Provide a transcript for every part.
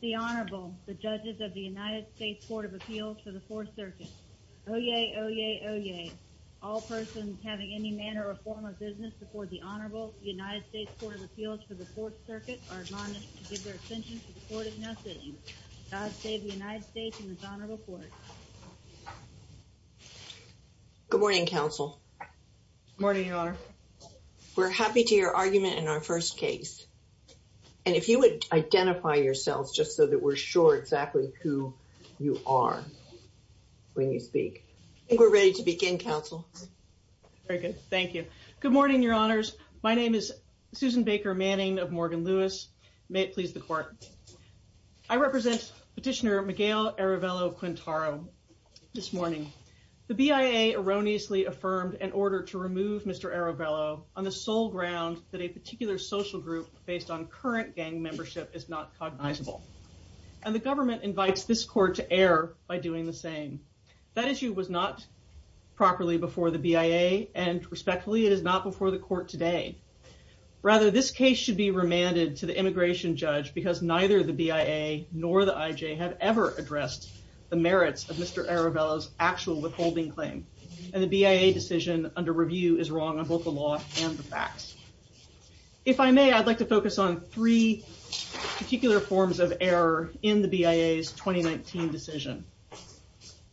The Honorable, the Judges of the United States Court of Appeals for the Fourth Circuit. Oye, oye, oye. All persons having any manner or form of business before the Honorable United States Court of Appeals for the Fourth Circuit are admonished to give their attention to the Court of Nothing. God save the United States and His Honorable Court. Good morning, Counsel. Good morning, Your Honor. We're happy to hear your argument in our first case. And if you would identify yourselves just so that we're sure exactly who you are when you speak. I think we're ready to begin, Counsel. Very good. Thank you. Good morning, Your Honors. My name is Susan Baker Manning of Morgan Lewis. May it be a pleasure to serve as your attorney. I would like to begin by acknowledging that Mr. Arevalo-Quintero, this morning, the BIA erroneously affirmed an order to remove Mr. Arevalo on the sole ground that a particular social group based on current gang membership is not cognizable. And the government invites this court to err by doing the same. That neither the BIA nor the IJ have ever addressed the merits of Mr. Arevalo's actual withholding claim. And the BIA decision under review is wrong on both the law and the facts. If I may, I'd like to focus on three particular forms of error in the BIA's 2019 decision.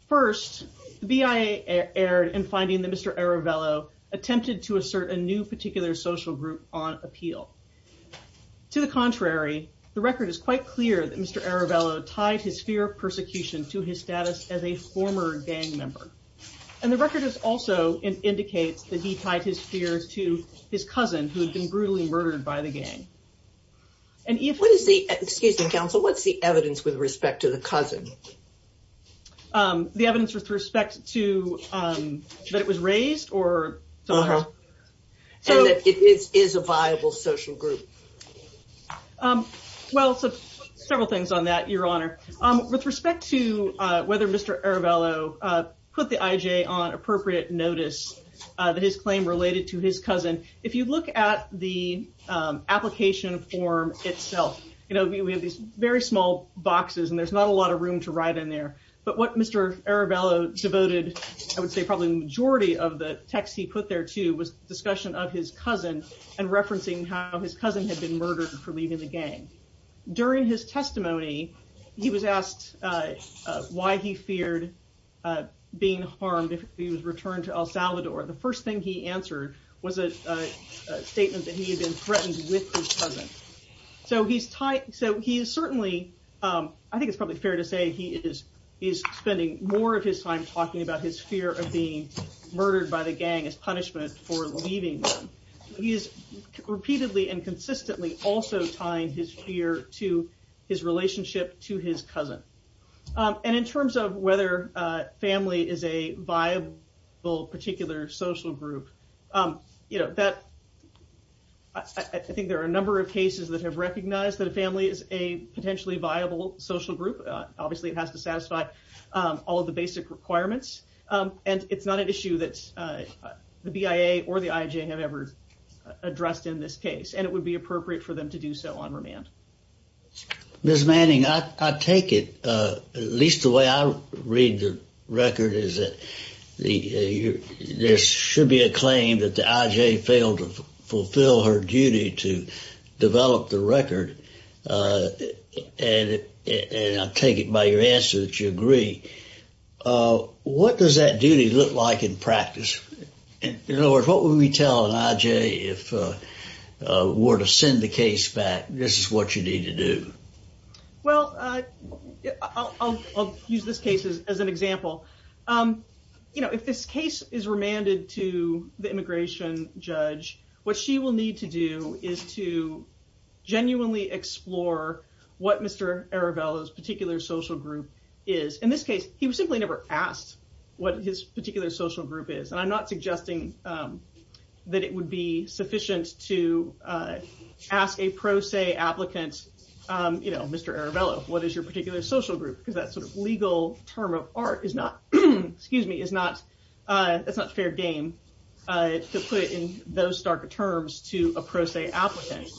First, the BIA erred in finding that Mr. Arevalo attempted to assert a new particular social group on appeal. To the contrary, the record is quite clear that Mr. Arevalo tied his fear of persecution to his status as a former gang member. And the record also indicates that he tied his fears to his cousin who had been brutally murdered by the gang. And if... What is the, excuse me, Counsel, what's the evidence with respect to the cousin? The evidence with respect to that it was raised or... And that it is a viable social group. Well, several things on that, Your Honor. With respect to whether Mr. Arevalo put the IJ on appropriate notice that his claim related to his cousin, if you look at the application form itself, you know, we have these very small boxes and there's not a lot of room to write in there. But what Mr. Arevalo devoted, I would say probably the majority of the text he put there too, was discussion of his cousin and referencing how his cousin had been murdered for leaving the gang. During his testimony, he was asked why he feared being harmed if he was returned to El Salvador. The first thing he answered was a statement that he had been So he's tied, so he is certainly, I think it's probably fair to say he is spending more of his time talking about his fear of being murdered by the gang as punishment for leaving them. He is repeatedly and consistently also tying his fear to his relationship to his cousin. And in terms of whether family is a viable particular social group, you know, that... There's a number of cases that have recognized that a family is a potentially viable social group. Obviously, it has to satisfy all of the basic requirements, and it's not an issue that the BIA or the IJ have ever addressed in this case, and it would be appropriate for them to do so on remand. Ms. Manning, I take it, at least the way I read the record, is that there should be a claim that the IJ failed to fulfill her duty to develop the record. And I take it by your answer that you agree. What does that duty look like in practice? In other words, what would we tell an IJ if we were to send the case back, this is what you need to do? Well, I'll use this case as an example. You know, if this case is remanded to the immigration judge, what she will need to do is to genuinely explore what Mr. Aravello's particular social group is. In this case, he was simply never asked what his particular social group is, and I'm not suggesting that it would be sufficient to ask a pro se applicant, you know, Mr. Aravello, what is your particular social group? Because that sort of legal term of art is not fair game to put in those stark terms to a pro se applicant.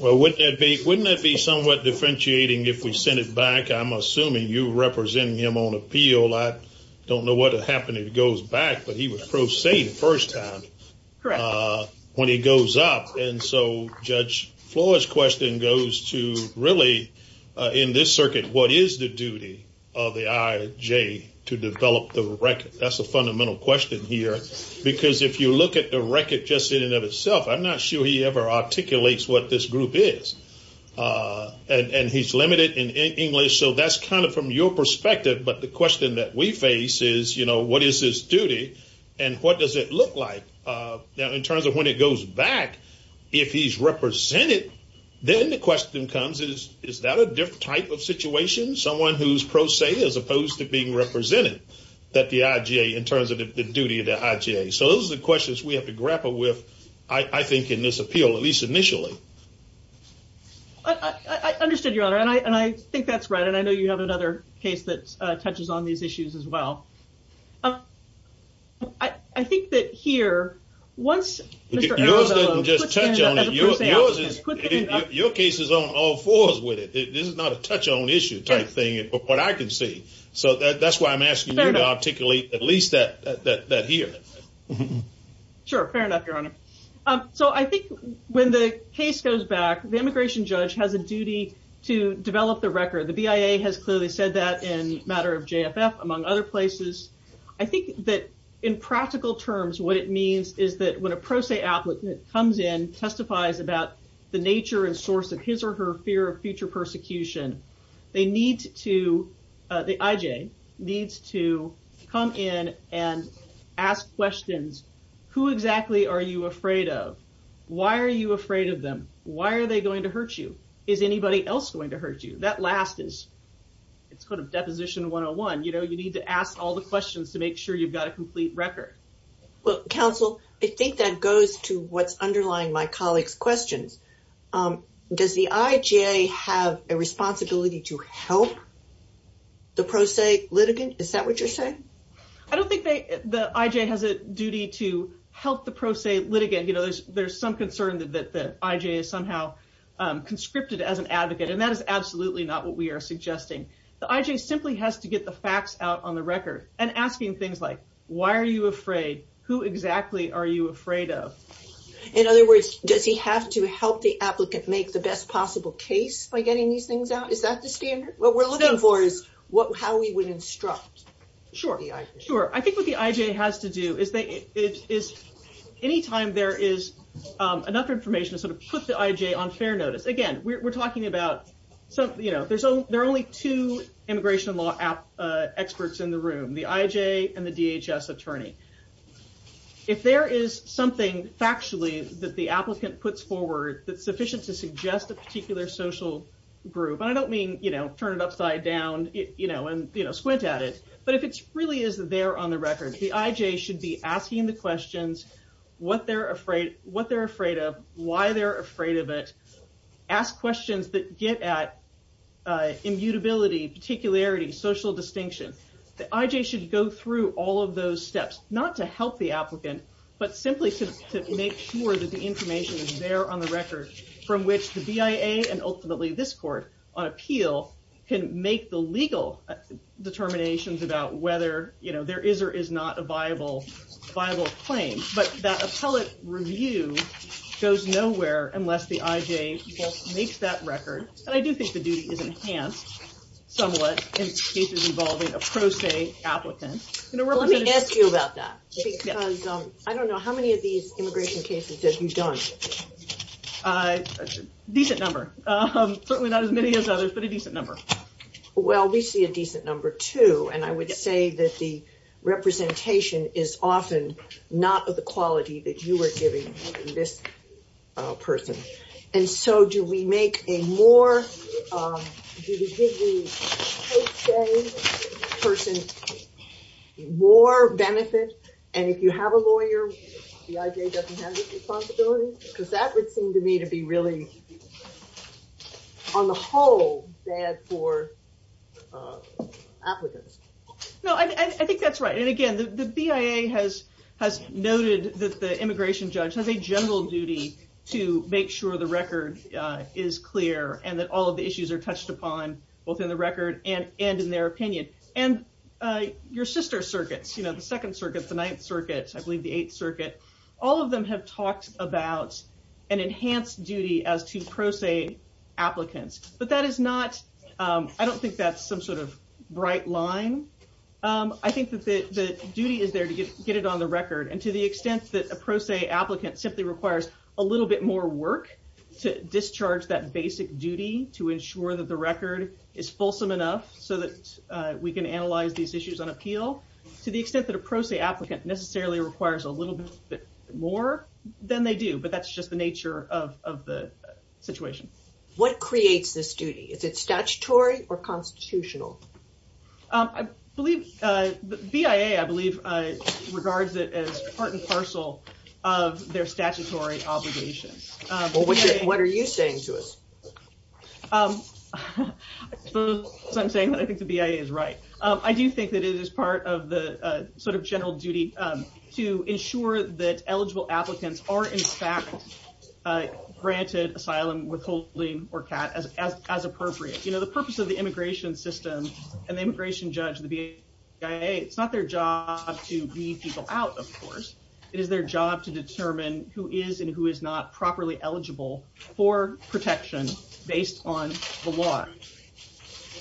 Well, wouldn't that be somewhat differentiating if we sent it back? I'm assuming you're representing him on appeal. I don't know what would happen if he goes back, but he was pro se the first time when he goes up. And so Judge Flores' question goes to really, in this circuit, what is the duty of the IJ to develop the record? That's the fundamental question here, because if you look at the record just in and of itself, I'm not sure he ever articulates what this group is. And he's limited in English. So that's kind of from your perspective. But the question that we face is, you know, what is his duty and what does it look like? Now, in terms of when it goes back, if he's represented, then the question comes is, is that a different type of situation? Someone who's pro se as opposed to being represented that the IJ in terms of the duty of the IJ. So those are the questions we have to grapple with, I think, in this appeal, at least initially. I understood, Your Honor, and I think that's right. And I know you have another case that touches on these issues as well. I think that here, once... Yours doesn't just touch on it. Your case is on all fours with it. This is not a touch on issue type thing, but what I can see. So that's why I'm asking you to articulate at least that here. Sure. Fair enough, Your Honor. So I think when the case goes back, the immigration judge has a duty to develop the record. The BIA has clearly said that in a matter of JFF, among other places. I think that in practical terms, what it means is that when a pro se applicant comes in, testifies about the nature and source of his or her fear of future persecution, they need to, the IJ needs to come in and ask questions. Who exactly are you afraid of? Why are you afraid of them? Why are they going to hurt you? Is anybody else going to hurt you? That last is, it's called a deposition 101. You know, you need to ask all the questions to make sure you've got a complete record. Well, counsel, I think that goes to what's underlying my colleagues' questions. Does the IJ have a responsibility to help the pro se litigant? Is that what you're saying? I don't think the IJ has a duty to help the pro se litigant. You know, there's some concern that the IJ is somehow conscripted as an advocate, and that is absolutely not what we are suggesting. The IJ simply has to get the facts out on the record. And asking things like, why are you afraid? Who exactly are you afraid of? In other words, does he have to help the applicant make the best possible case by getting these things out? Is that the standard? What we're looking for is how we would instruct the IJ. Sure. I think what the IJ has to do is, anytime there is enough information to sort of put the IJ on fair notice. Again, we're talking about, you know, there are only two immigration law experts in the room, the IJ and the DHS attorney. If there is something factually that the applicant puts forward that's sufficient to suggest a particular social group, and I don't mean, you know, turn it upside down, you know, and, you know, squint at it. But if it really is there on the record, the IJ should be asking the questions, what they're afraid of, why they're afraid of it. Ask questions that get at immutability, particularity, social distinction. The IJ should go through all of those steps, not to help the applicant, but simply to make sure that the information is there on the record, from which the BIA and ultimately this court on appeal can make the legal determinations about whether, you know, there is or is not a viable claim. But that appellate review goes nowhere unless the IJ makes that record. And I do think the duty is enhanced somewhat in cases involving a pro se applicant. Let me ask you about that, because I don't know, how many of these immigration cases have you done? A decent number, certainly not as many as others, but a decent number. Well, we see a decent number, too, and I would say that the representation is often not of the quality that you are giving this person. And so do we make a more, do we give the pro se person more benefit? And if you have a lawyer, the IJ doesn't have this responsibility? Because that would seem to me to be really, on the whole, bad for applicants. No, I think that's right. And again, the BIA has noted that the immigration judge has a general duty to make sure the record is clear and that all of the issues are touched upon, both in the record and in their opinion. And your sister circuits, you know, the Second Circuit, the Ninth Circuit, I believe the Eighth Circuit, all of them have talked about an enhanced duty as to pro se applicants. But that is not, I don't think that's some sort of bright line. I think that the duty is there to get it on the record. And to the extent that a pro se applicant simply requires a little bit more work to discharge that basic duty to ensure that the record is fulsome enough so that we can analyze these issues on appeal, to the extent that a pro se applicant necessarily requires a little bit more, then they do. But that's just the nature of the situation. What creates this duty? Is it statutory or constitutional? BIA, I believe, regards it as part and parcel of their statutory obligations. What are you saying to us? I'm saying that I think the BIA is right. I do think that it is part of the sort of general duty to ensure that eligible applicants are, in fact, granted asylum, withholding, or CAT as appropriate. You know, the purpose of the immigration system and the immigration judge, the BIA, it's not their job to weed people out, of course. It is their job to determine who is and who is not properly eligible for protection based on the law.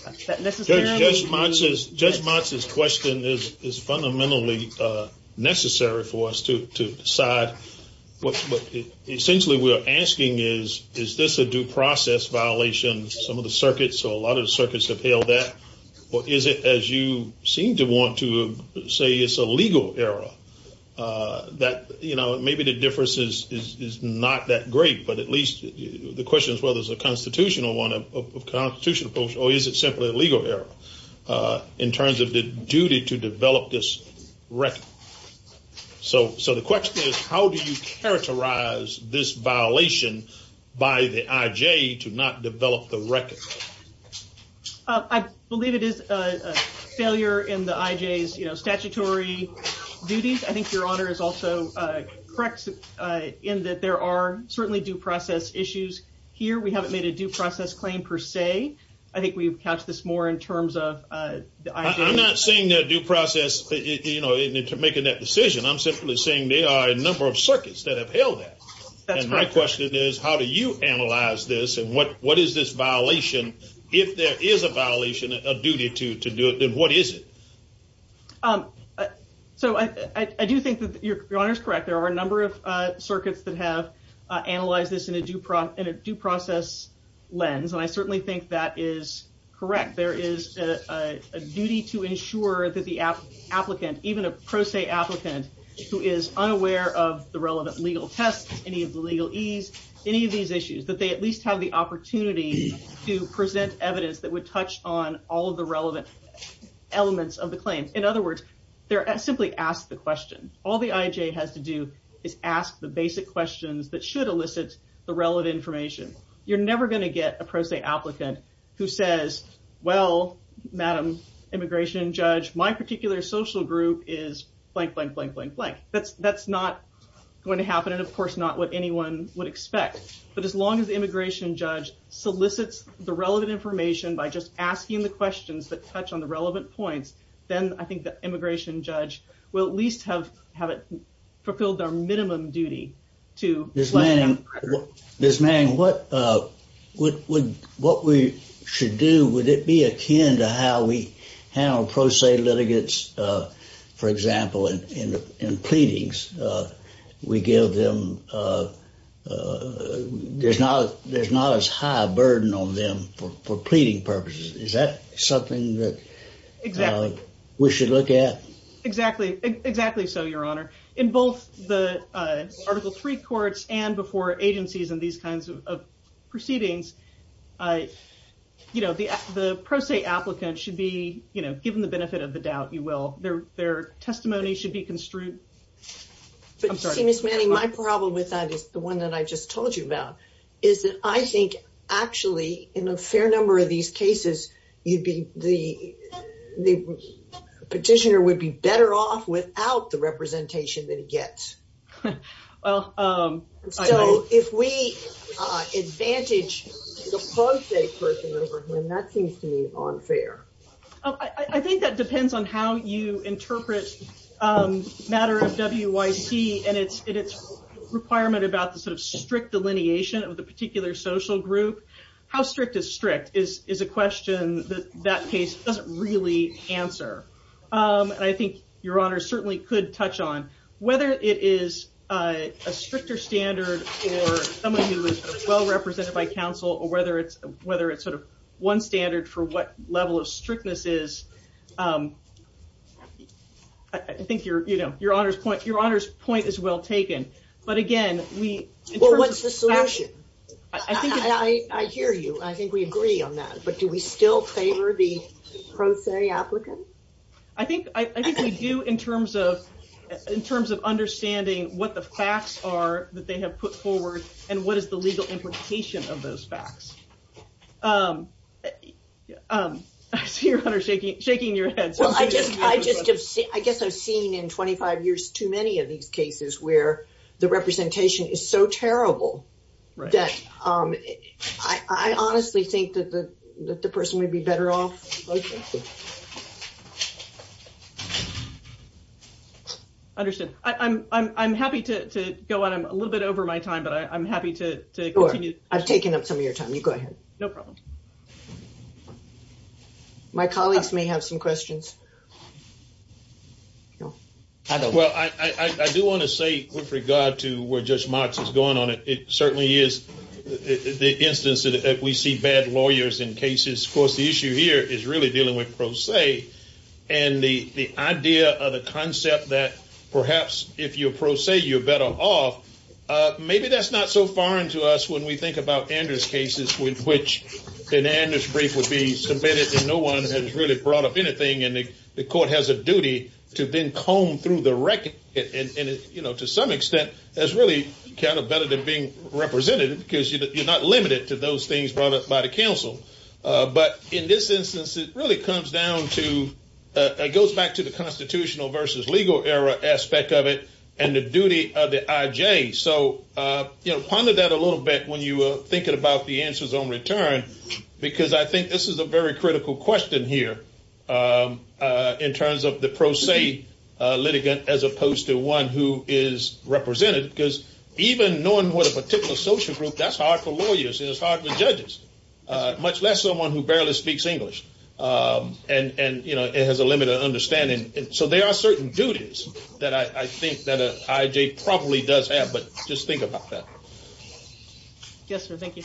Judge Motz's question is fundamentally necessary for us to decide. What essentially we are asking is, is this a due process violation? Some of the circuits, or a lot of the circuits have held that. Or is it, as you seem to want to say, it's a legal error? That, you know, maybe the difference is not that great, but at least the question is whether it's a constitutional one, a constitutional approach, or is it simply a legal error in terms of the duty to develop this record? So the question is, how do you characterize this violation by the IJ to not develop the record? I believe it is a failure in the IJ's statutory duties. I think your Honor is also correct in that there are certainly due process issues here. We haven't made a due process claim per se. I think we've touched this more in terms of the IJ. I'm not saying that due process, you know, in making that decision. I'm simply saying there are a number of circuits that have held that. And my question is, how do you analyze this and what is this violation? If there is a violation, a duty to do it, then what is it? So I do think that your Honor is correct. There are a number of circuits that have analyzed this in a due process lens, and I certainly think that is correct. There is a duty to ensure that the applicant, even a pro se applicant, who is unaware of the relevant legal tests, any of the legal ease, any of these issues, that they at least have the opportunity to present evidence that would touch on all of the relevant elements of the claim. In other words, they're simply asked the question. All the IJ has to do is ask the basic questions that should elicit the relevant information. You're never going to get a pro se applicant who says, well, Madam Immigration Judge, my particular social group is blank, blank, blank, blank, blank. That's not going to happen, and of course, not what anyone would expect. But as long as the Immigration Judge solicits the relevant information by just asking the questions that touch on the relevant points, then I think the Immigration Judge will at least have fulfilled their minimum duty. Ms. Manning, what we should do, would it be akin to how we handle pro se litigants, for example, in pleadings? We give them, there's not as high a burden on them for pleading purposes. Is that something that we should look at? Exactly so, Your Honor. In both the Article III courts and before agencies and these kinds of proceedings, the pro se applicant should be given the benefit of the doubt, you will. Their testimony should be construed. Ms. Manning, my problem with that is the one that I just told you about, is that I think actually in a fair number of these cases, the petitioner would be better off without the representation that he gets. So, if we advantage the pro se person over him, that seems to me unfair. I think that depends on how you interpret the matter of WYC and its requirement about the sort of strict delineation of the particular social group. How strict is strict is a question that that case doesn't really answer. I think Your Honor certainly could touch on whether it is a stricter standard for someone who is well represented by counsel, or whether it's sort of one standard for what level of strictness is. I think Your Honor's point is well taken. But again, we... Well, what's the solution? I hear you. I think we agree on that. But do we still favor the pro se applicant? I think we do in terms of understanding what the facts are that they have put forward and what is the legal implication of those facts. I see Your Honor shaking your head. I guess I've seen in 25 years too many of these cases where the representation is so terrible that I honestly think that the person would be better off... Understood. I'm happy to go on. I'm a little bit over my time, but I'm happy to continue. I've taken up some of your time. You go ahead. No problem. My colleagues may have some questions. Well, I do want to say with regard to where Judge Marks is going on, it certainly is the instance that we see bad lawyers in cases. Of course, the issue here is really dealing with pro se. And the idea of the concept that perhaps if you're pro se, you're better off, maybe that's not so foreign to us when we think about Anders' cases with which an Anders brief would be submitted and no one has really brought up anything and the court has a duty to then comb through the record. And to some extent, that's really kind of better than being representative because you're not limited to those things brought up by the counsel. But in this instance, it really comes down to, it goes back to the constitutional versus legal era aspect of it and the duty of the IJ. So ponder that a little bit when you are thinking about the answers on return because I think this is a very critical question here. In terms of the pro se litigant as opposed to one who is represented because even knowing what a particular social group, that's hard for lawyers and it's hard for judges, much less someone who barely speaks English and has a limited understanding. So there are certain duties that I think that an IJ probably does have, but just think about that. Yes, sir. Thank you.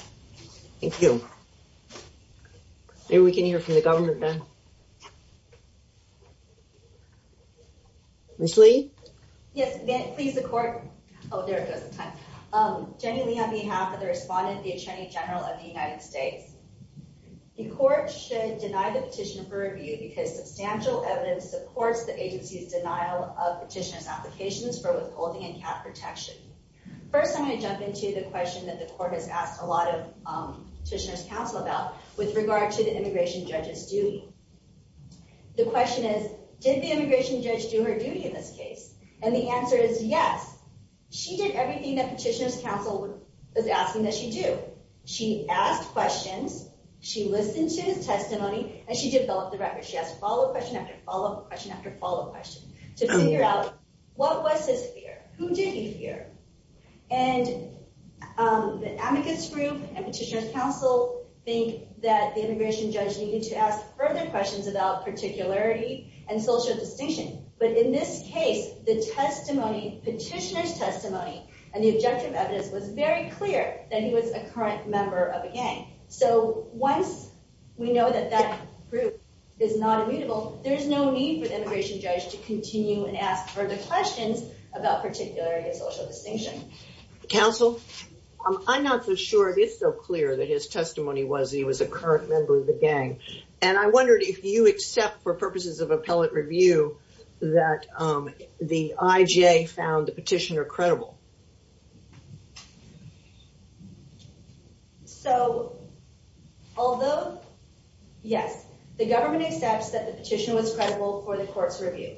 Thank you. Maybe we can hear from the government then. Ms. Lee? Yes, please, the court. Oh, there goes the time. Jenny Lee on behalf of the respondent, the attorney general of the United States. The court should deny the petitioner for review because substantial evidence supports the agency's denial of petitioner's applications for withholding and cap protection. First, I'm going to jump into the question that the court has asked a lot of petitioner's counsel about with regard to the immigration judge's duty. The question is, did the immigration judge do her duty in this case? And the answer is yes. She did everything that petitioner's counsel was asking that she do. She asked questions, she listened to his testimony, and she developed the record. She asked follow-up question after follow-up question after follow-up question to figure out what was his fear? Who did he fear? And the advocates group and petitioner's counsel think that the immigration judge needed to ask further questions about particularity and social distinction. But in this case, the testimony, petitioner's testimony, and the objective evidence was very clear that he was a current member of a gang. So once we know that that group is not immutable, there's no need for the immigration judge to continue and ask further questions about particularity and social distinction. Counsel, I'm not so sure it is so clear that his testimony was that he was a current member of the gang. And I wondered if you accept, for purposes of appellate review, that the IJ found the petitioner credible. So, although, yes, the government accepts that the petitioner was credible for the court's review.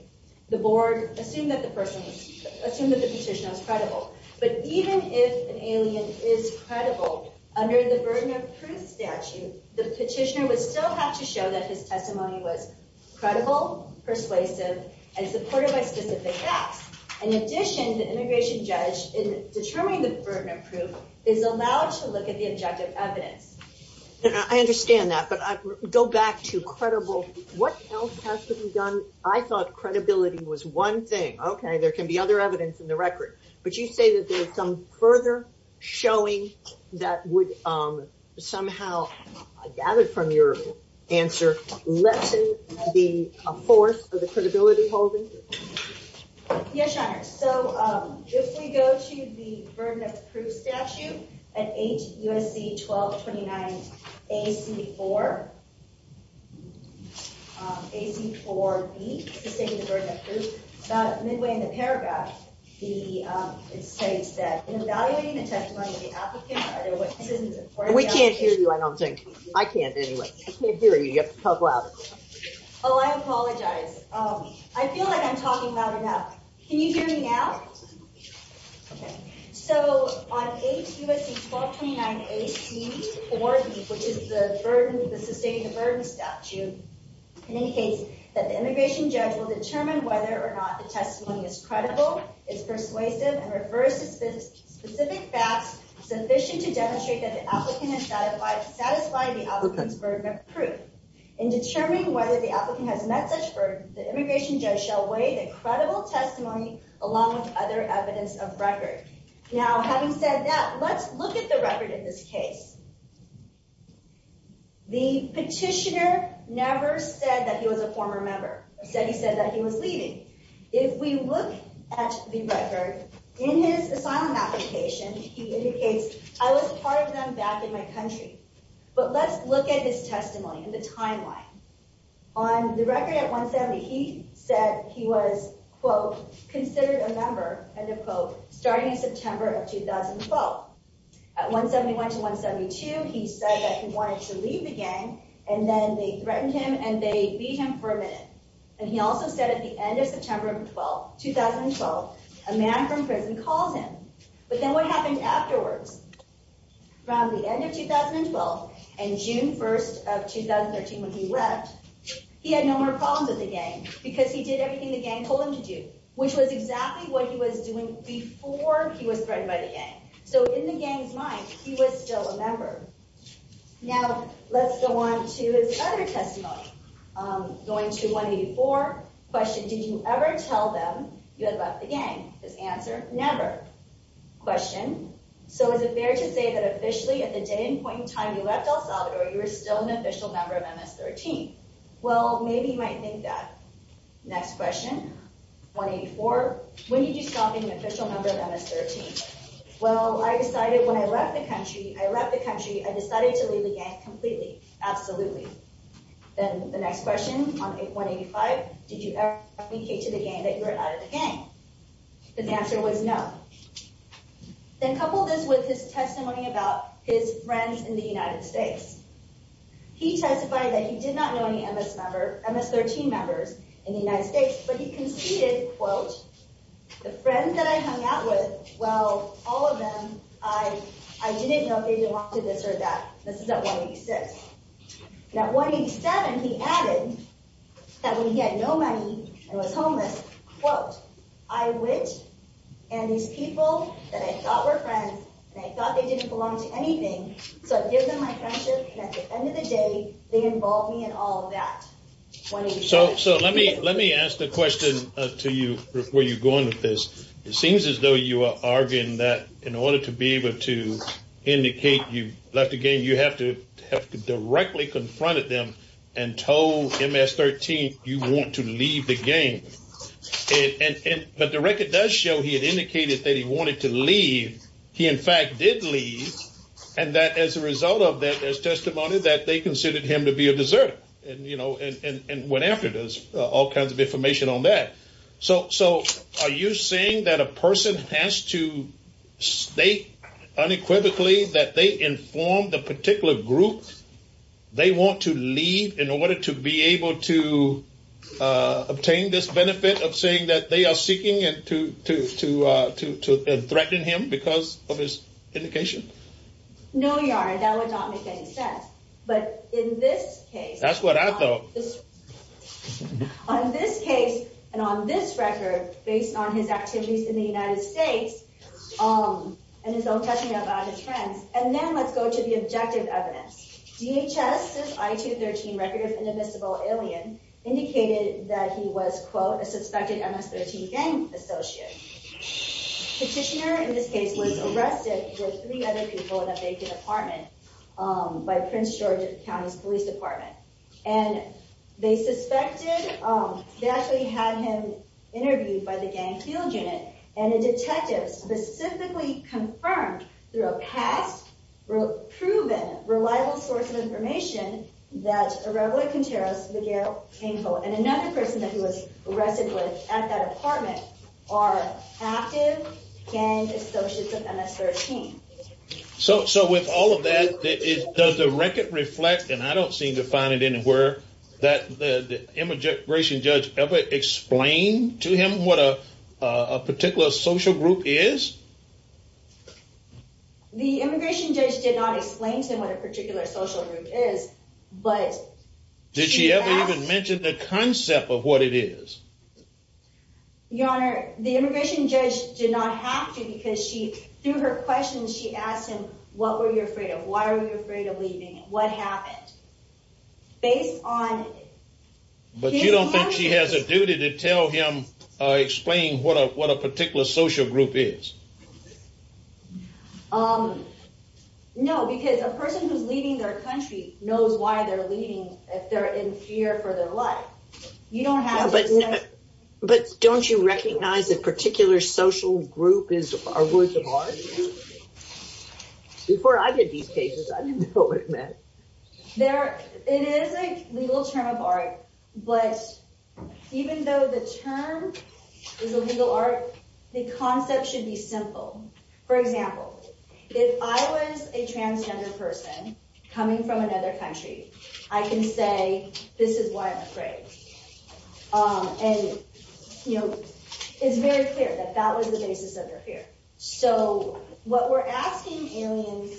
The board assumed that the petitioner was credible. But even if an alien is credible, under the burden of proof statute, the petitioner would still have to show that his testimony was credible, persuasive, and supported by specific facts. In addition, the immigration judge, in determining the burden of proof, is allowed to look at the objective evidence. And I understand that, but go back to credible. What else has to be done? I thought credibility was one thing. Okay, there can be other evidence in the record. But you say that there's some further showing that would somehow, gathered from your answer, lessen the force of the credibility holding? Yes, Your Honor. So, if we go to the burden of proof statute at 8 U.S.C. 1229 A.C. 4, A.C. 4B, Sustaining the Burden of Proof, about midway in the paragraph, it says that, in evaluating the testimony of the applicant, are there witnesses in support of the application? We can't hear you, I don't think. I can't, anyway. I can't hear you, you have to talk louder. Oh, I apologize. I feel like I'm talking loud enough. Can you hear me now? So, on 8 U.S.C. 1229 A.C. 4B, which is the burden, the Sustaining the Burden statute, it indicates that the immigration judge will determine whether or not the testimony is credible, is persuasive, and refers to specific facts sufficient to demonstrate that the applicant has satisfied the applicant's burden of proof. In determining whether the applicant has met such burden, the immigration judge shall weigh the credible testimony along with other evidence of record. Now, having said that, let's look at the record in this case. The petitioner never said that he was a former member. He said that he was leaving. If we look at the record, in his asylum application, he indicates, I was a part of them back in my country. But let's look at his testimony and the timeline. On the record at 170, he said he was, quote, considered a member, end of quote, starting in September of 2012. At 171 to 172, he said that he wanted to leave the gang, and then they threatened him and they beat him for a minute. And he also said at the end of September of 2012, a man from prison calls him. But then what happened afterwards? Around the end of 2012 and June 1st of 2013 when he left, he had no more problems with the gang because he did everything the gang told him to do, which was exactly what he was doing before he was threatened by the gang. So in the gang's mind, he was still a member. Now, let's go on to his other testimony. Going to 184, question, did you ever tell them you had left the gang? His answer, never. Question, so is it fair to say that officially at the day and point in time you left El Salvador, you were still an official member of MS-13? Well, maybe you might think that. Next question. 184, when did you stop being an official member of MS-13? Well, I decided when I left the country, I left the country, I decided to leave the gang completely. Absolutely. Then the next question on 185, did you ever tell the gang? His answer was no. Then couple this with his testimony about his friends in the United States. He testified that he did not know any MS-13 members in the United States, but he conceded, quote, the friends that I hung out with, well, all of them, I didn't know if they wanted this or that. This is at 186. And at 187, he added that when he had no money and was homeless, quote, I went and these people that I thought were friends and I thought they didn't belong to anything, so I give them my friendship and at the end of the day, they involve me in all of that. So let me ask the question to you where you're going with this. It seems as though you are arguing that in order to be able to indicate you left the gang, you have to have directly confronted them and told MS-13 you want to leave the gang. But the record does show he had indicated that he wanted to leave. He, in fact, did leave and that as a result of that, there's testimony that they considered him to be a deserter and went after this, all kinds of information on that. So are you saying that a person has to state unequivocally that they informed the particular group they want to leave in order to be able to obtain this benefit of saying that they are seeking to threaten him because of his indication? No, your honor, that would not make any sense. But in this case... That's what I thought. On this case and on this record based on his activities in the United States and his own testimony about his friends, and then let's go to the objective evidence. This is a record of an invisible alien indicated that he was, quote, a suspected MS-13 gang associate. Petitioner, in this case, was arrested with three other people in a vacant apartment by Prince George County's Police Department. And they suspected... They actually had him and a detective specifically confirmed through a past proven reliable source of information that Reverend Contreras, Miguel, and another person that he was arrested with at that apartment are active gang associates of MS-13. So with all of that, does the record reflect, and I don't seem to find it anywhere, that the immigration judge ever explained to him what a particular social group is? The immigration judge did not explain to him what a particular social group is, but she asked... Did she ever even mention the concept of what it is? Your Honor, the immigration judge did not have to because through her questions she asked him, what were you afraid of? Why were you afraid of leaving? What happened? Based on... But you don't think she has a duty to tell him or explain what a particular social group is? This is why they're leaving if they're in fear for their life. You don't have to... But don't you recognize a particular social group is a work of art? Before I did these cases, I didn't know what it meant. It is a legal term of art, but even though the term is a legal art, the concept should be simple. For example, if I was a transgender person coming from another country, I can say, this is why I'm afraid. And, you know, it's very clear that that was the basis of her fear. So what we're asking aliens,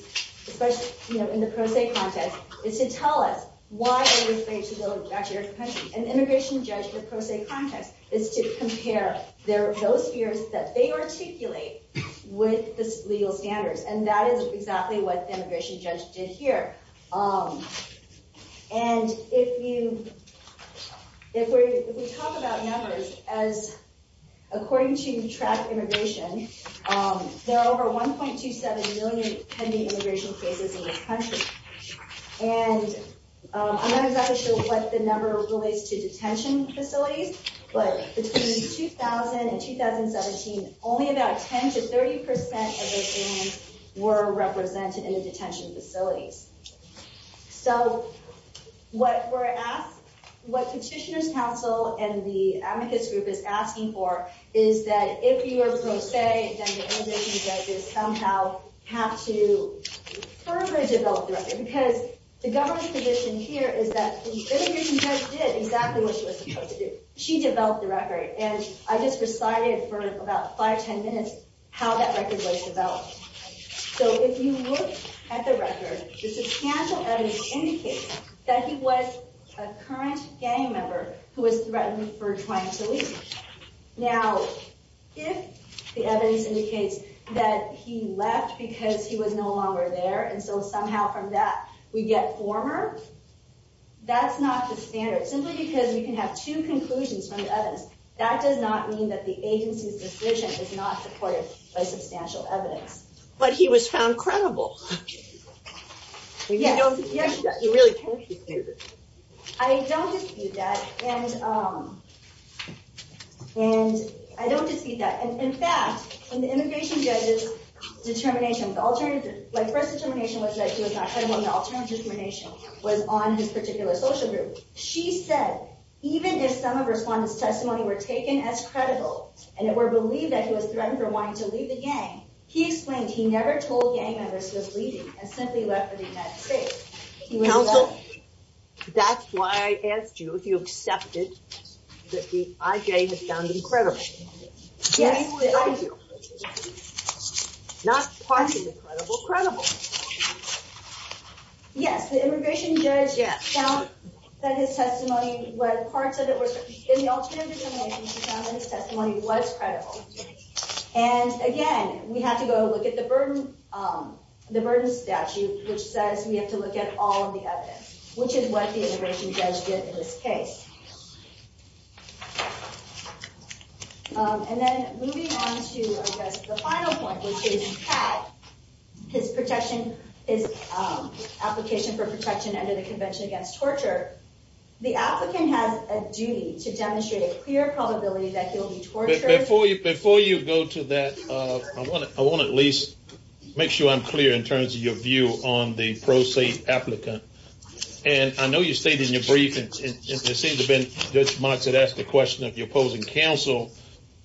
especially in the pro se context, is to tell us why they were afraid to go back to their country. An immigration judge in the pro se context is to compare those fears that they articulate with the legal standards. And that is exactly what the immigration judge did here. And if you... If we talk about numbers, as according to Track Immigration, there are over 1.27 million pending immigration cases in this country. And I'm not exactly sure what the number relates to detention facilities, but between 2000 and 2017, only about 10 to 30% of those aliens were represented in the detention facilities. So what we're asked, what Petitioners Council and the advocates group is asking for is that if you are pro se, then the immigration judges somehow have to further develop the record because the government's position here is that the immigration judge did exactly what she was supposed to do. She developed the record. And in about five, 10 minutes, how that record was developed. So if you look at the record, the substantial evidence indicates that he was a current gang member who was threatened for trying to leave. Now, if the evidence indicates that he left because he was no longer there and so somehow from that we get former, that's not the standard simply because we can have two conclusions from the evidence. That does not mean that the agency's decision is not supported by substantial evidence. But he was found credible. Yes. You don't dispute that. You really can't dispute it. I don't dispute that. And I don't dispute that. In fact, in the immigration judge's determination, the alternative, like first determination was that he was not credible and the alternative determination was on his particular social group. She said, even if some of respondents' testimony were taken as credible and it were believed that he was threatened for wanting to leave the gang, he explained he never told gang members he was leaving and simply left for the United States. Counsel, that's why I asked you if you accepted that the IJ was found incredible. Yes. Not partly credible, credible. Yes, the immigration judge found that his testimony when part of it was in the alternative determination, he found that his testimony was credible. And again, we have to go look at the burden, the burden statute, which says we have to look at all of the evidence, which is what the immigration judge did in this case. And then moving on to the final point, which is how his protection, his application for protection under the Convention Against Torture, the applicant has a duty to demonstrate a clear probability that he'll be tortured. Before you, before you go to that, I want to, I want to at least make sure I'm clear in terms of your view on the pro se applicant. And I know you stated in your brief and it seems to have been Judge Marks that asked the question of your opposing counsel,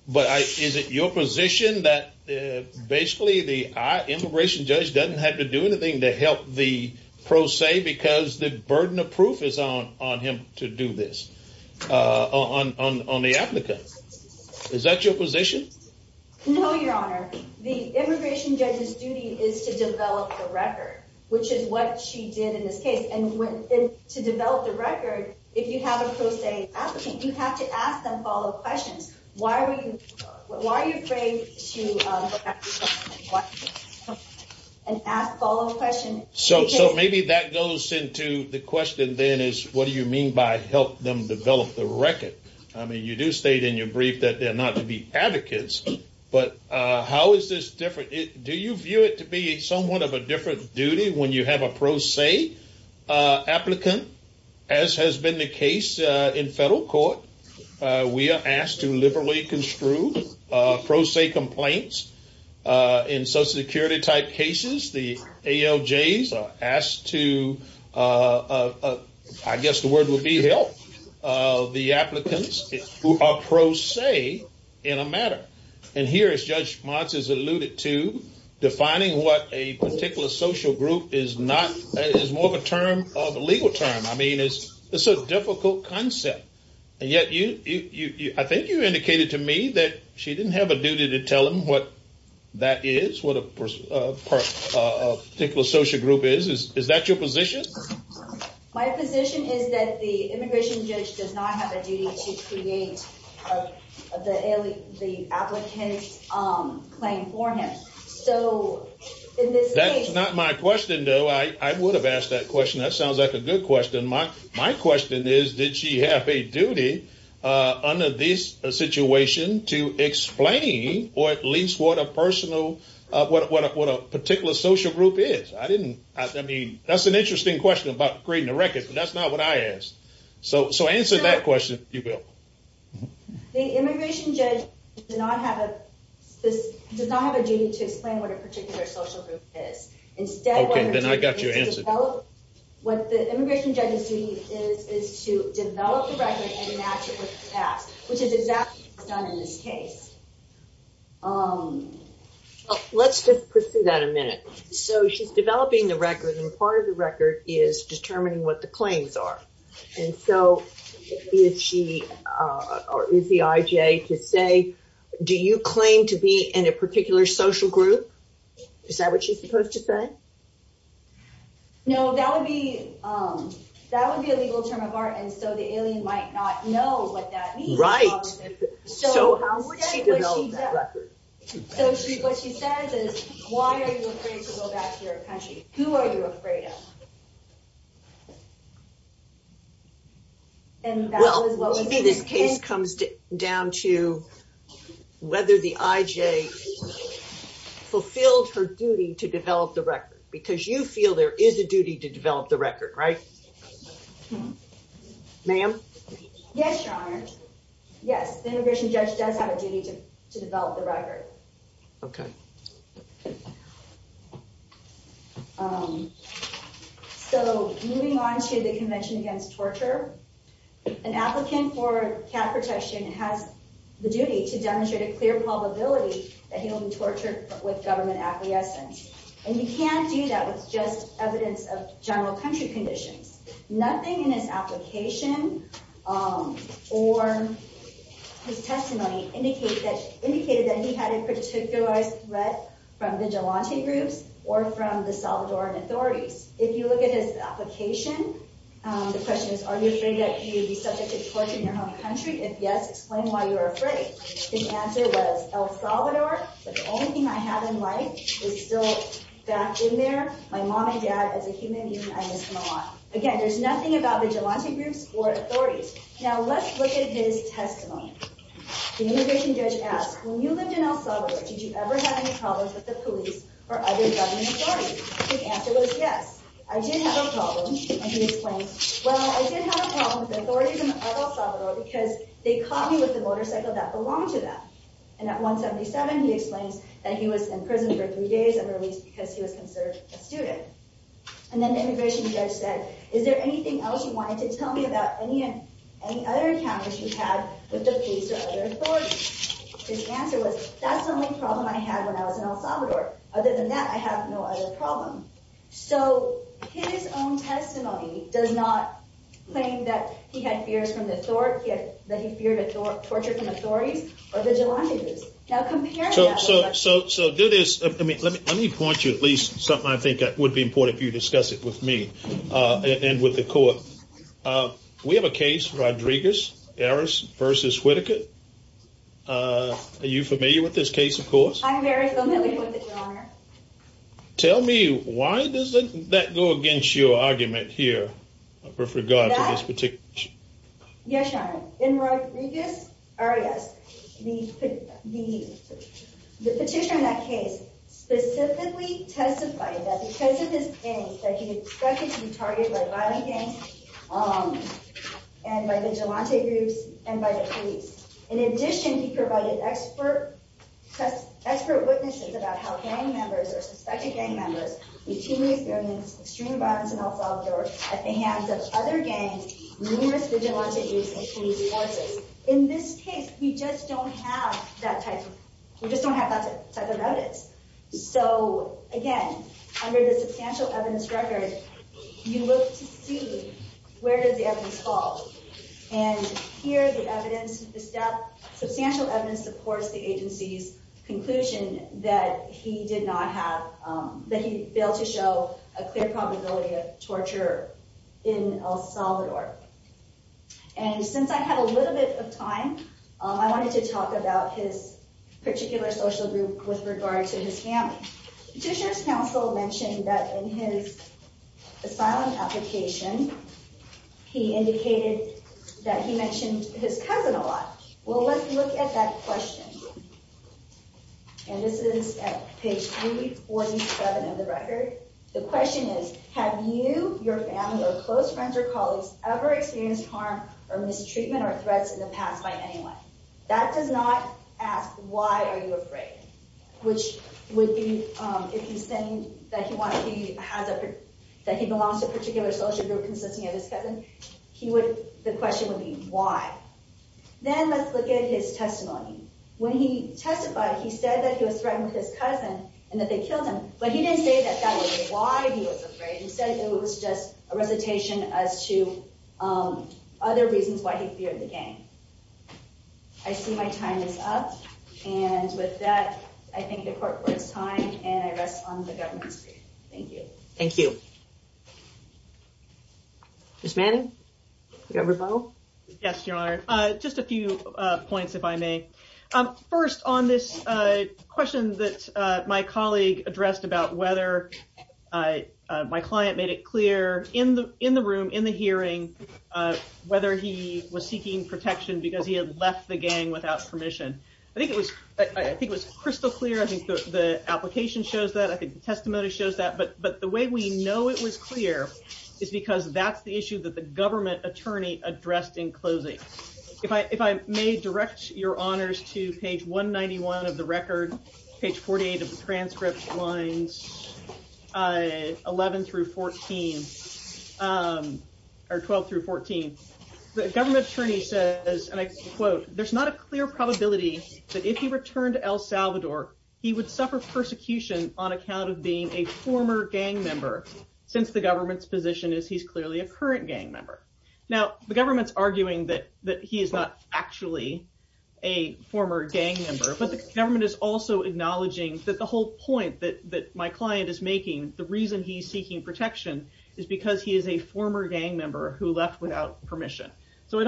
but is it your position that basically the immigration judge doesn't have to do anything to help the pro se because the burden of proof is on him to do this, on the applicant? Is that your position? No, Your Honor. The immigration judge's duty is to develop the record, which is what she did in this case. And to develop the record, if you have a pro se applicant, you have to ask them follow-up questions. Why are you, why are you afraid to look at the document and ask follow-up questions? So maybe that goes into the question then is, what do you mean by help them develop the record? I mean, you do state in your brief that they're not to be advocates, but how is this different? Do you view it to be somewhat of a different duty when you have a pro se applicant? As has been the case in federal court, we are asked to liberally construe pro se complaints. In Social Security type cases, the ALJs are asked to, I guess the word would be help, the applicants who are pro se in a matter. And here, as Judge Motz has alluded to, defining what a particular social group is not, is more of a term, a legal term. I mean, it's a difficult concept. And yet, I think you indicated to me that she didn't have a duty to tell them what that is, what a particular social group is. Is that your position? My position is that the immigration judge does not have a duty to create the applicant's claim for him. So, in this case... That's not my question, though. I would have asked that question. That sounds like a good question. My question is, did she have a duty under this situation to explain or at least what a personal, what a particular social group is? I didn't... I mean, that's an interesting question about creating a record, but that's not what I asked. So, answer that question, if you will. The immigration judge does not have a... does not have a duty to explain what a particular social group is. Okay, then I got your answer. Instead, what the immigration judge's duty is is to develop the record and match it with the past, which is exactly what she's done in this case. Let's just pursue that a minute. So, she's developing the record and part of the record is determining what the claims are. And so, is she, or is the IJ to say, do you claim to be in a particular social group? Is that what she's supposed to say? No, that would be that would be a legal term of art and so the alien might not know what that means. Right. So, how would she develop that record? So, what she says is why are you afraid to go back to your country? Who are you afraid of? Well, maybe this case comes down to whether the IJ fulfilled her duty to develop the record because you feel there is a duty to develop the record, right? Ma'am? Yes, Your Honor. Yes, the immigration judge does have a duty to develop the record. Okay. So, moving on to the Convention Against Torture, an applicant for cap protection has the duty to demonstrate a clear probability that he will be government acquiescence and you can't do that with just evidence of general country conditions. Nothing in his application or his testimony indicated that he had a particular threat from vigilante groups or from the Salvadoran authorities. If you look at his application, the question is are you afraid that you'd be subjected to torture in your home country? If yes, explain why you're afraid. The answer was El Salvador, but the only thing I have in life is still back in there. My mom and dad as a human being, I miss them a lot. Again, there's nothing about vigilante groups or authorities. Now, let's look at his testimony. The immigration judge asked, when you lived in El Salvador, did you ever have any problems with the police or other government authorities? His answer was yes. I did have a problem and he explained, well, I did have a problem with the authorities because they caught me with a motorcycle that belonged to them and at 177, he explains that he was in prison for three days and released because he was considered a student and then the immigration judge said, is there anything else you wanted to tell me about any other encounters you had with the police or other authorities? His answer was, that's the only problem I had when I was in El Salvador. Other than that, I have no other problem. So, his own testimony does not claim that he had fears from the authorities or that he feared torture from the authorities or vigilante groups. Now, compare that with us. So, do this. Let me point you to at least something I think would be important if you discuss it with me and with the court. We have a case, Rodriguez-Arias versus Whitaker. Are you familiar with this case, of course? I'm very familiar with it, your honor. Tell me, why does that go against your argument here with regard to this particular case? Yes, your honor. In Rodriguez-Arias, the petition on that case specifically testified that because of his gang, that he expected to be targeted by violent gangs and by vigilante groups and by the police. In addition, he provided expert witnesses about how gang members or suspected gang members routinely experience extreme violence in El Salvador at the hands of other gangs, numerous vigilante groups, and police forces. In this case, we just don't have that type of evidence. So, again, under the substantial evidence record, you look to see where does the evidence fall. And here, the evidence, the substantial evidence supports the agency's conclusion that he did not have, that he failed to show a clear probability of torture in El Salvador. And since I have a little bit of time, I wanted to talk about his particular social group with regard to his family. Judiciary Counsel mentioned that in his asylum application, he indicated that he mentioned his cousin a lot. Well, let's look at that question. And this is at page 347 of the record. The question is, have you, your family, or close friends or colleagues, ever experienced harm or mistreatment or threats in the past by anyone? That does not ask, why are you afraid? Which would be, if he's saying that he belongs to a particular social group consisting of his cousin, the question would be, why? Then, let's look at his testimony. When he testified, he said that he was threatened with his cousin and that they killed him, but he didn't say that that was the reason. I see my time is up, and with that, I thank the court for its time, and I rest on the government's feet. Thank you. Thank you. Ms. Manning, do you have a rebuttal? Yes, Your Honor. Just a few points, if I may. First, on this question that my colleague addressed about whether, my client made it clear, in the room, in the hearing, whether he was seeking protection because he had left the gang without permission. I think it was crystal clear, I think the application shows that, but the way we know it was clear is because that's the issue that the government trying to address. The government attorney says, and I quote, there's not a clear probability that if he returned to El Salvador, he would suffer persecution on account of being a former gang member, since the government's position is he's a current gang member. The government is arguing that he's not actually a former gang member, but the government is also acknowledging that the whole point that my client is making, the reason he's seeking protection is because he's a former gang member who left without permission. So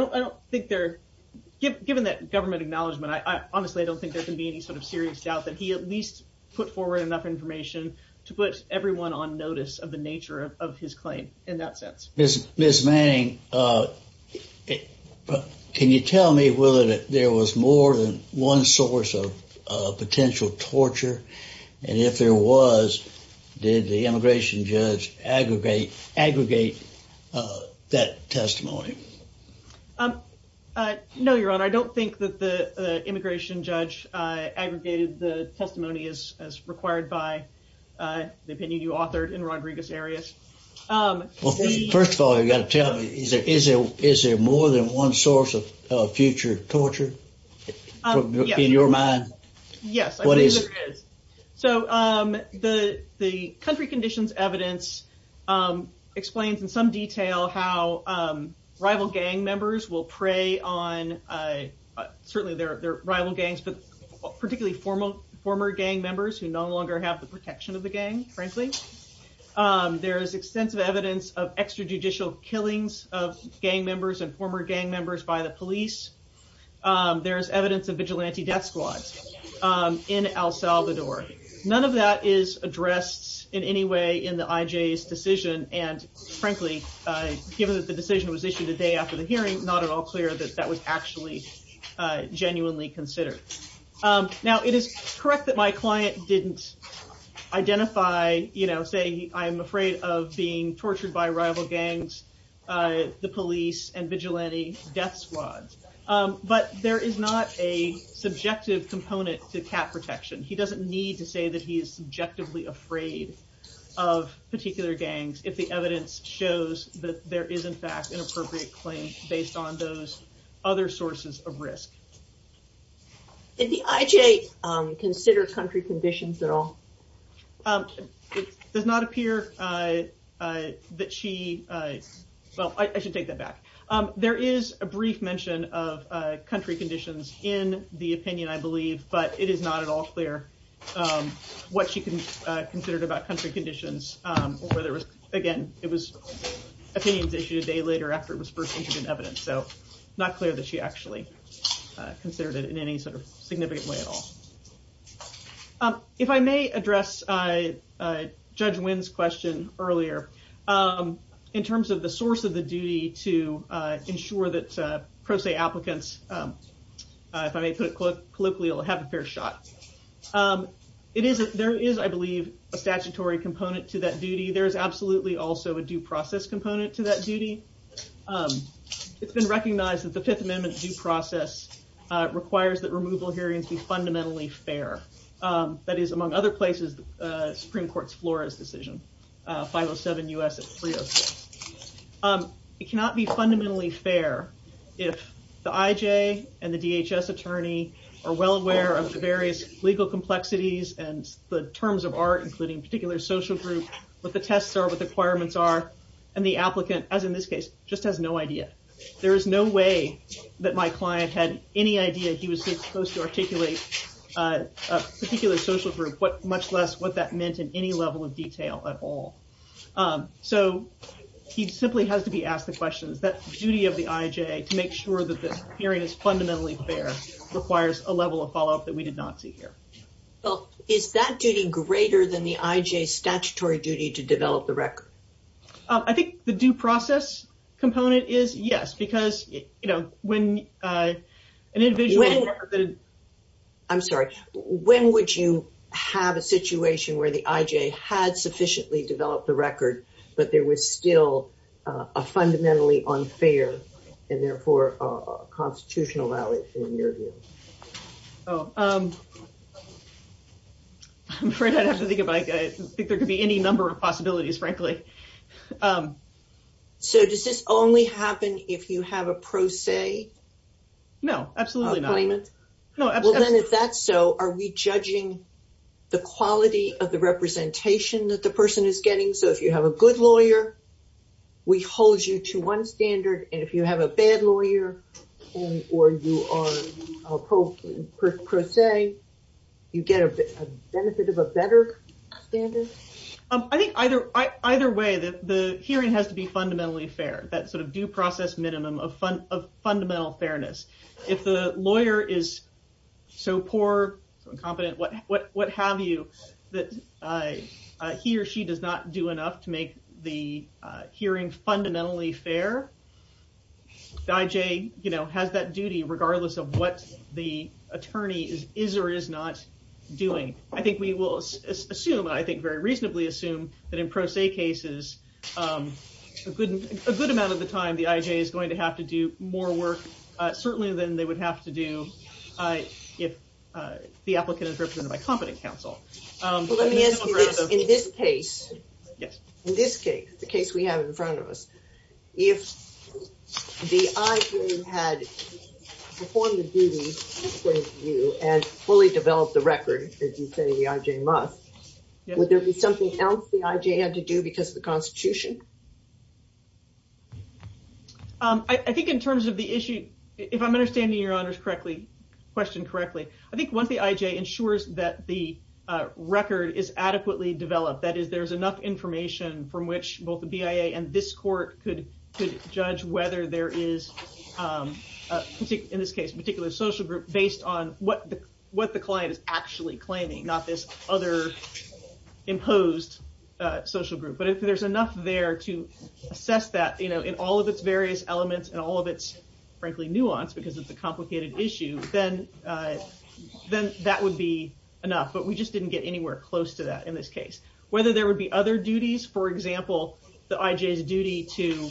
given that government acknowledgment, I honestly don't think there can be any serious doubt that he at least put forward enough information to put everyone on notice of the nature of his claim in that sense. Mr. Manning, can you tell me whether there was more than one source of potential torture, and if there was, did the immigration judge aggregate that testimony? No, your honor, I don't think that the immigration judge aggregated the testimony as required by the opinion you authored in Rodriguez areas. First of all, is there more than one source of future torture in your mind? Yes, I believe there is. So, the country conditions evidence explains in some detail how rival gang members will prey on, certainly their rival gangs, but particularly former gang members who no longer have the protection of the gang, frankly. There is extensive evidence of extrajudicial killings of gang members and former gang members by the police. There is vigilante death squads in El Salvador. None of that is addressed in any way in the IJ's decision, and frankly, given that the decision was issued a day after the hearing, not at all clear that that was actually genuinely considered. Now, it is correct that my client didn't identify, you know, say, I'm afraid of being tortured by rival gangs, the police, and vigilante death squads, but there is not a subjective component to cat protection. He doesn't need to say that he is subjectively afraid of particular gangs if the evidence shows that there is, in fact, an appropriate claim based on those other sources of risk. Did the IJ consider country conditions at all? It does not appear that she well, I should take that back. There is a brief mention of country conditions. Again, it was opinions issued a day later after it was first entered in evidence, so not clear that she actually considered it in any significant way at all. If I may address Judge Wynn's question earlier, in terms of the source of the duty to ensure that pro se applicants if I may put it colloquially will have a fair shot. There is, I believe, a statutory component to that duty. There is absolutely also a due process component to that duty. It has been recognized that the Fifth Amendment due process requires that removal hearings be fundamentally fair. That is, among other places, the Supreme Court's Flores decision, 507 U.S. 306. It cannot be fundamentally fair if the I.J. and the DHS attorney are well aware of the various legal complexities and the terms of art, including particular social group, what the tests are, what the requirements are, and the requirements of a particular social group, much less what that meant in any level of detail at all. So he simply has to be asked the questions. That duty of the I.J. to make sure that the hearing is fundamentally fair requires a level of follow-up that we did not see here. Well, is that duty greater than the I.J.'s statutory duty to develop the record? I think the due process component is yes, because, you know, when an individual I'm sorry, when would you have a situation where the I.J. had sufficiently developed the record, but there was still a fundamentally unfair and therefore constitutional value in your view? I'm afraid I'd have to think about it. I think there could be any number of possibilities, frankly. So does this only happen if you have a pro se? No, absolutely not. If that's so, are we judging the quality of the representation that the person is getting? So if you have a good lawyer, we hold you to one standard, and if you have a bad lawyer, or you are a pro se, you get a benefit of a better standard? I think either way, the hearing has to be fundamentally fair, that sort of due process minimum of fundamental fairness. If the hearing is not due enough to make the hearing fundamentally fair, the IJ has that duty regardless of what the attorney is or is not doing. I think we will assume, and I think very reasonably assume, that in pro se cases, a good amount of the time the IJ is going to have to do more work, certainly, than they would have to do if the applicant is represented by competent counsel. Let me ask you this, in this case, the case we have in front of us, if the IJ had performed the duty and fully developed the record, as you say, the IJ must, would there be something else the IJ had to do because of the Constitution? I think in terms of the issue, if I'm understanding your question correctly, I think once the IJ ensures that the record is adequately developed, that is, if there is enough information from which both the BIA and this court could judge whether there is, in this case, a particular social group based on what the client is actually claiming, not this other imposed social group. But if there is enough there to assess that in all of its various forms, there would be other duties. For example, the IJ's duty to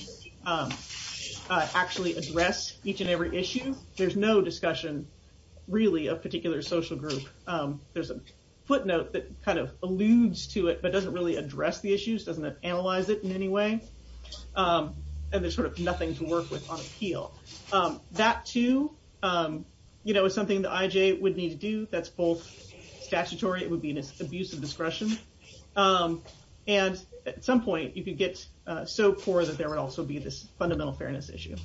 actually address each and every issue, there's no discussion really of particular social group. There's a footnote that kind of alludes to it but doesn't really address the issues, doesn't analyze it in any way, and there's sort of nothing to work with on appeal. That too, you know, is something the IJ would need to do, that's both statutory, it would be an abuse of discretion, and at some point you could get so poor that there would also be this fundamental fairness issue.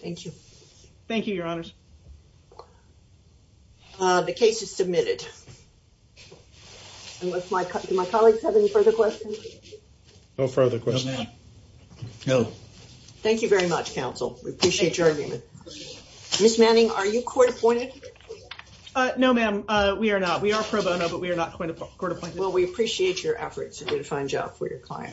Thank you. Thank you, Your Honor. The case is submitted. Do my colleagues have any further questions? No further questions. No. Thank you very much, counsel. We appreciate your argument. Ms. Manning, are you court appointed? No, ma'am, we are not. We are pro bono, but we are not court appointed. Thank you.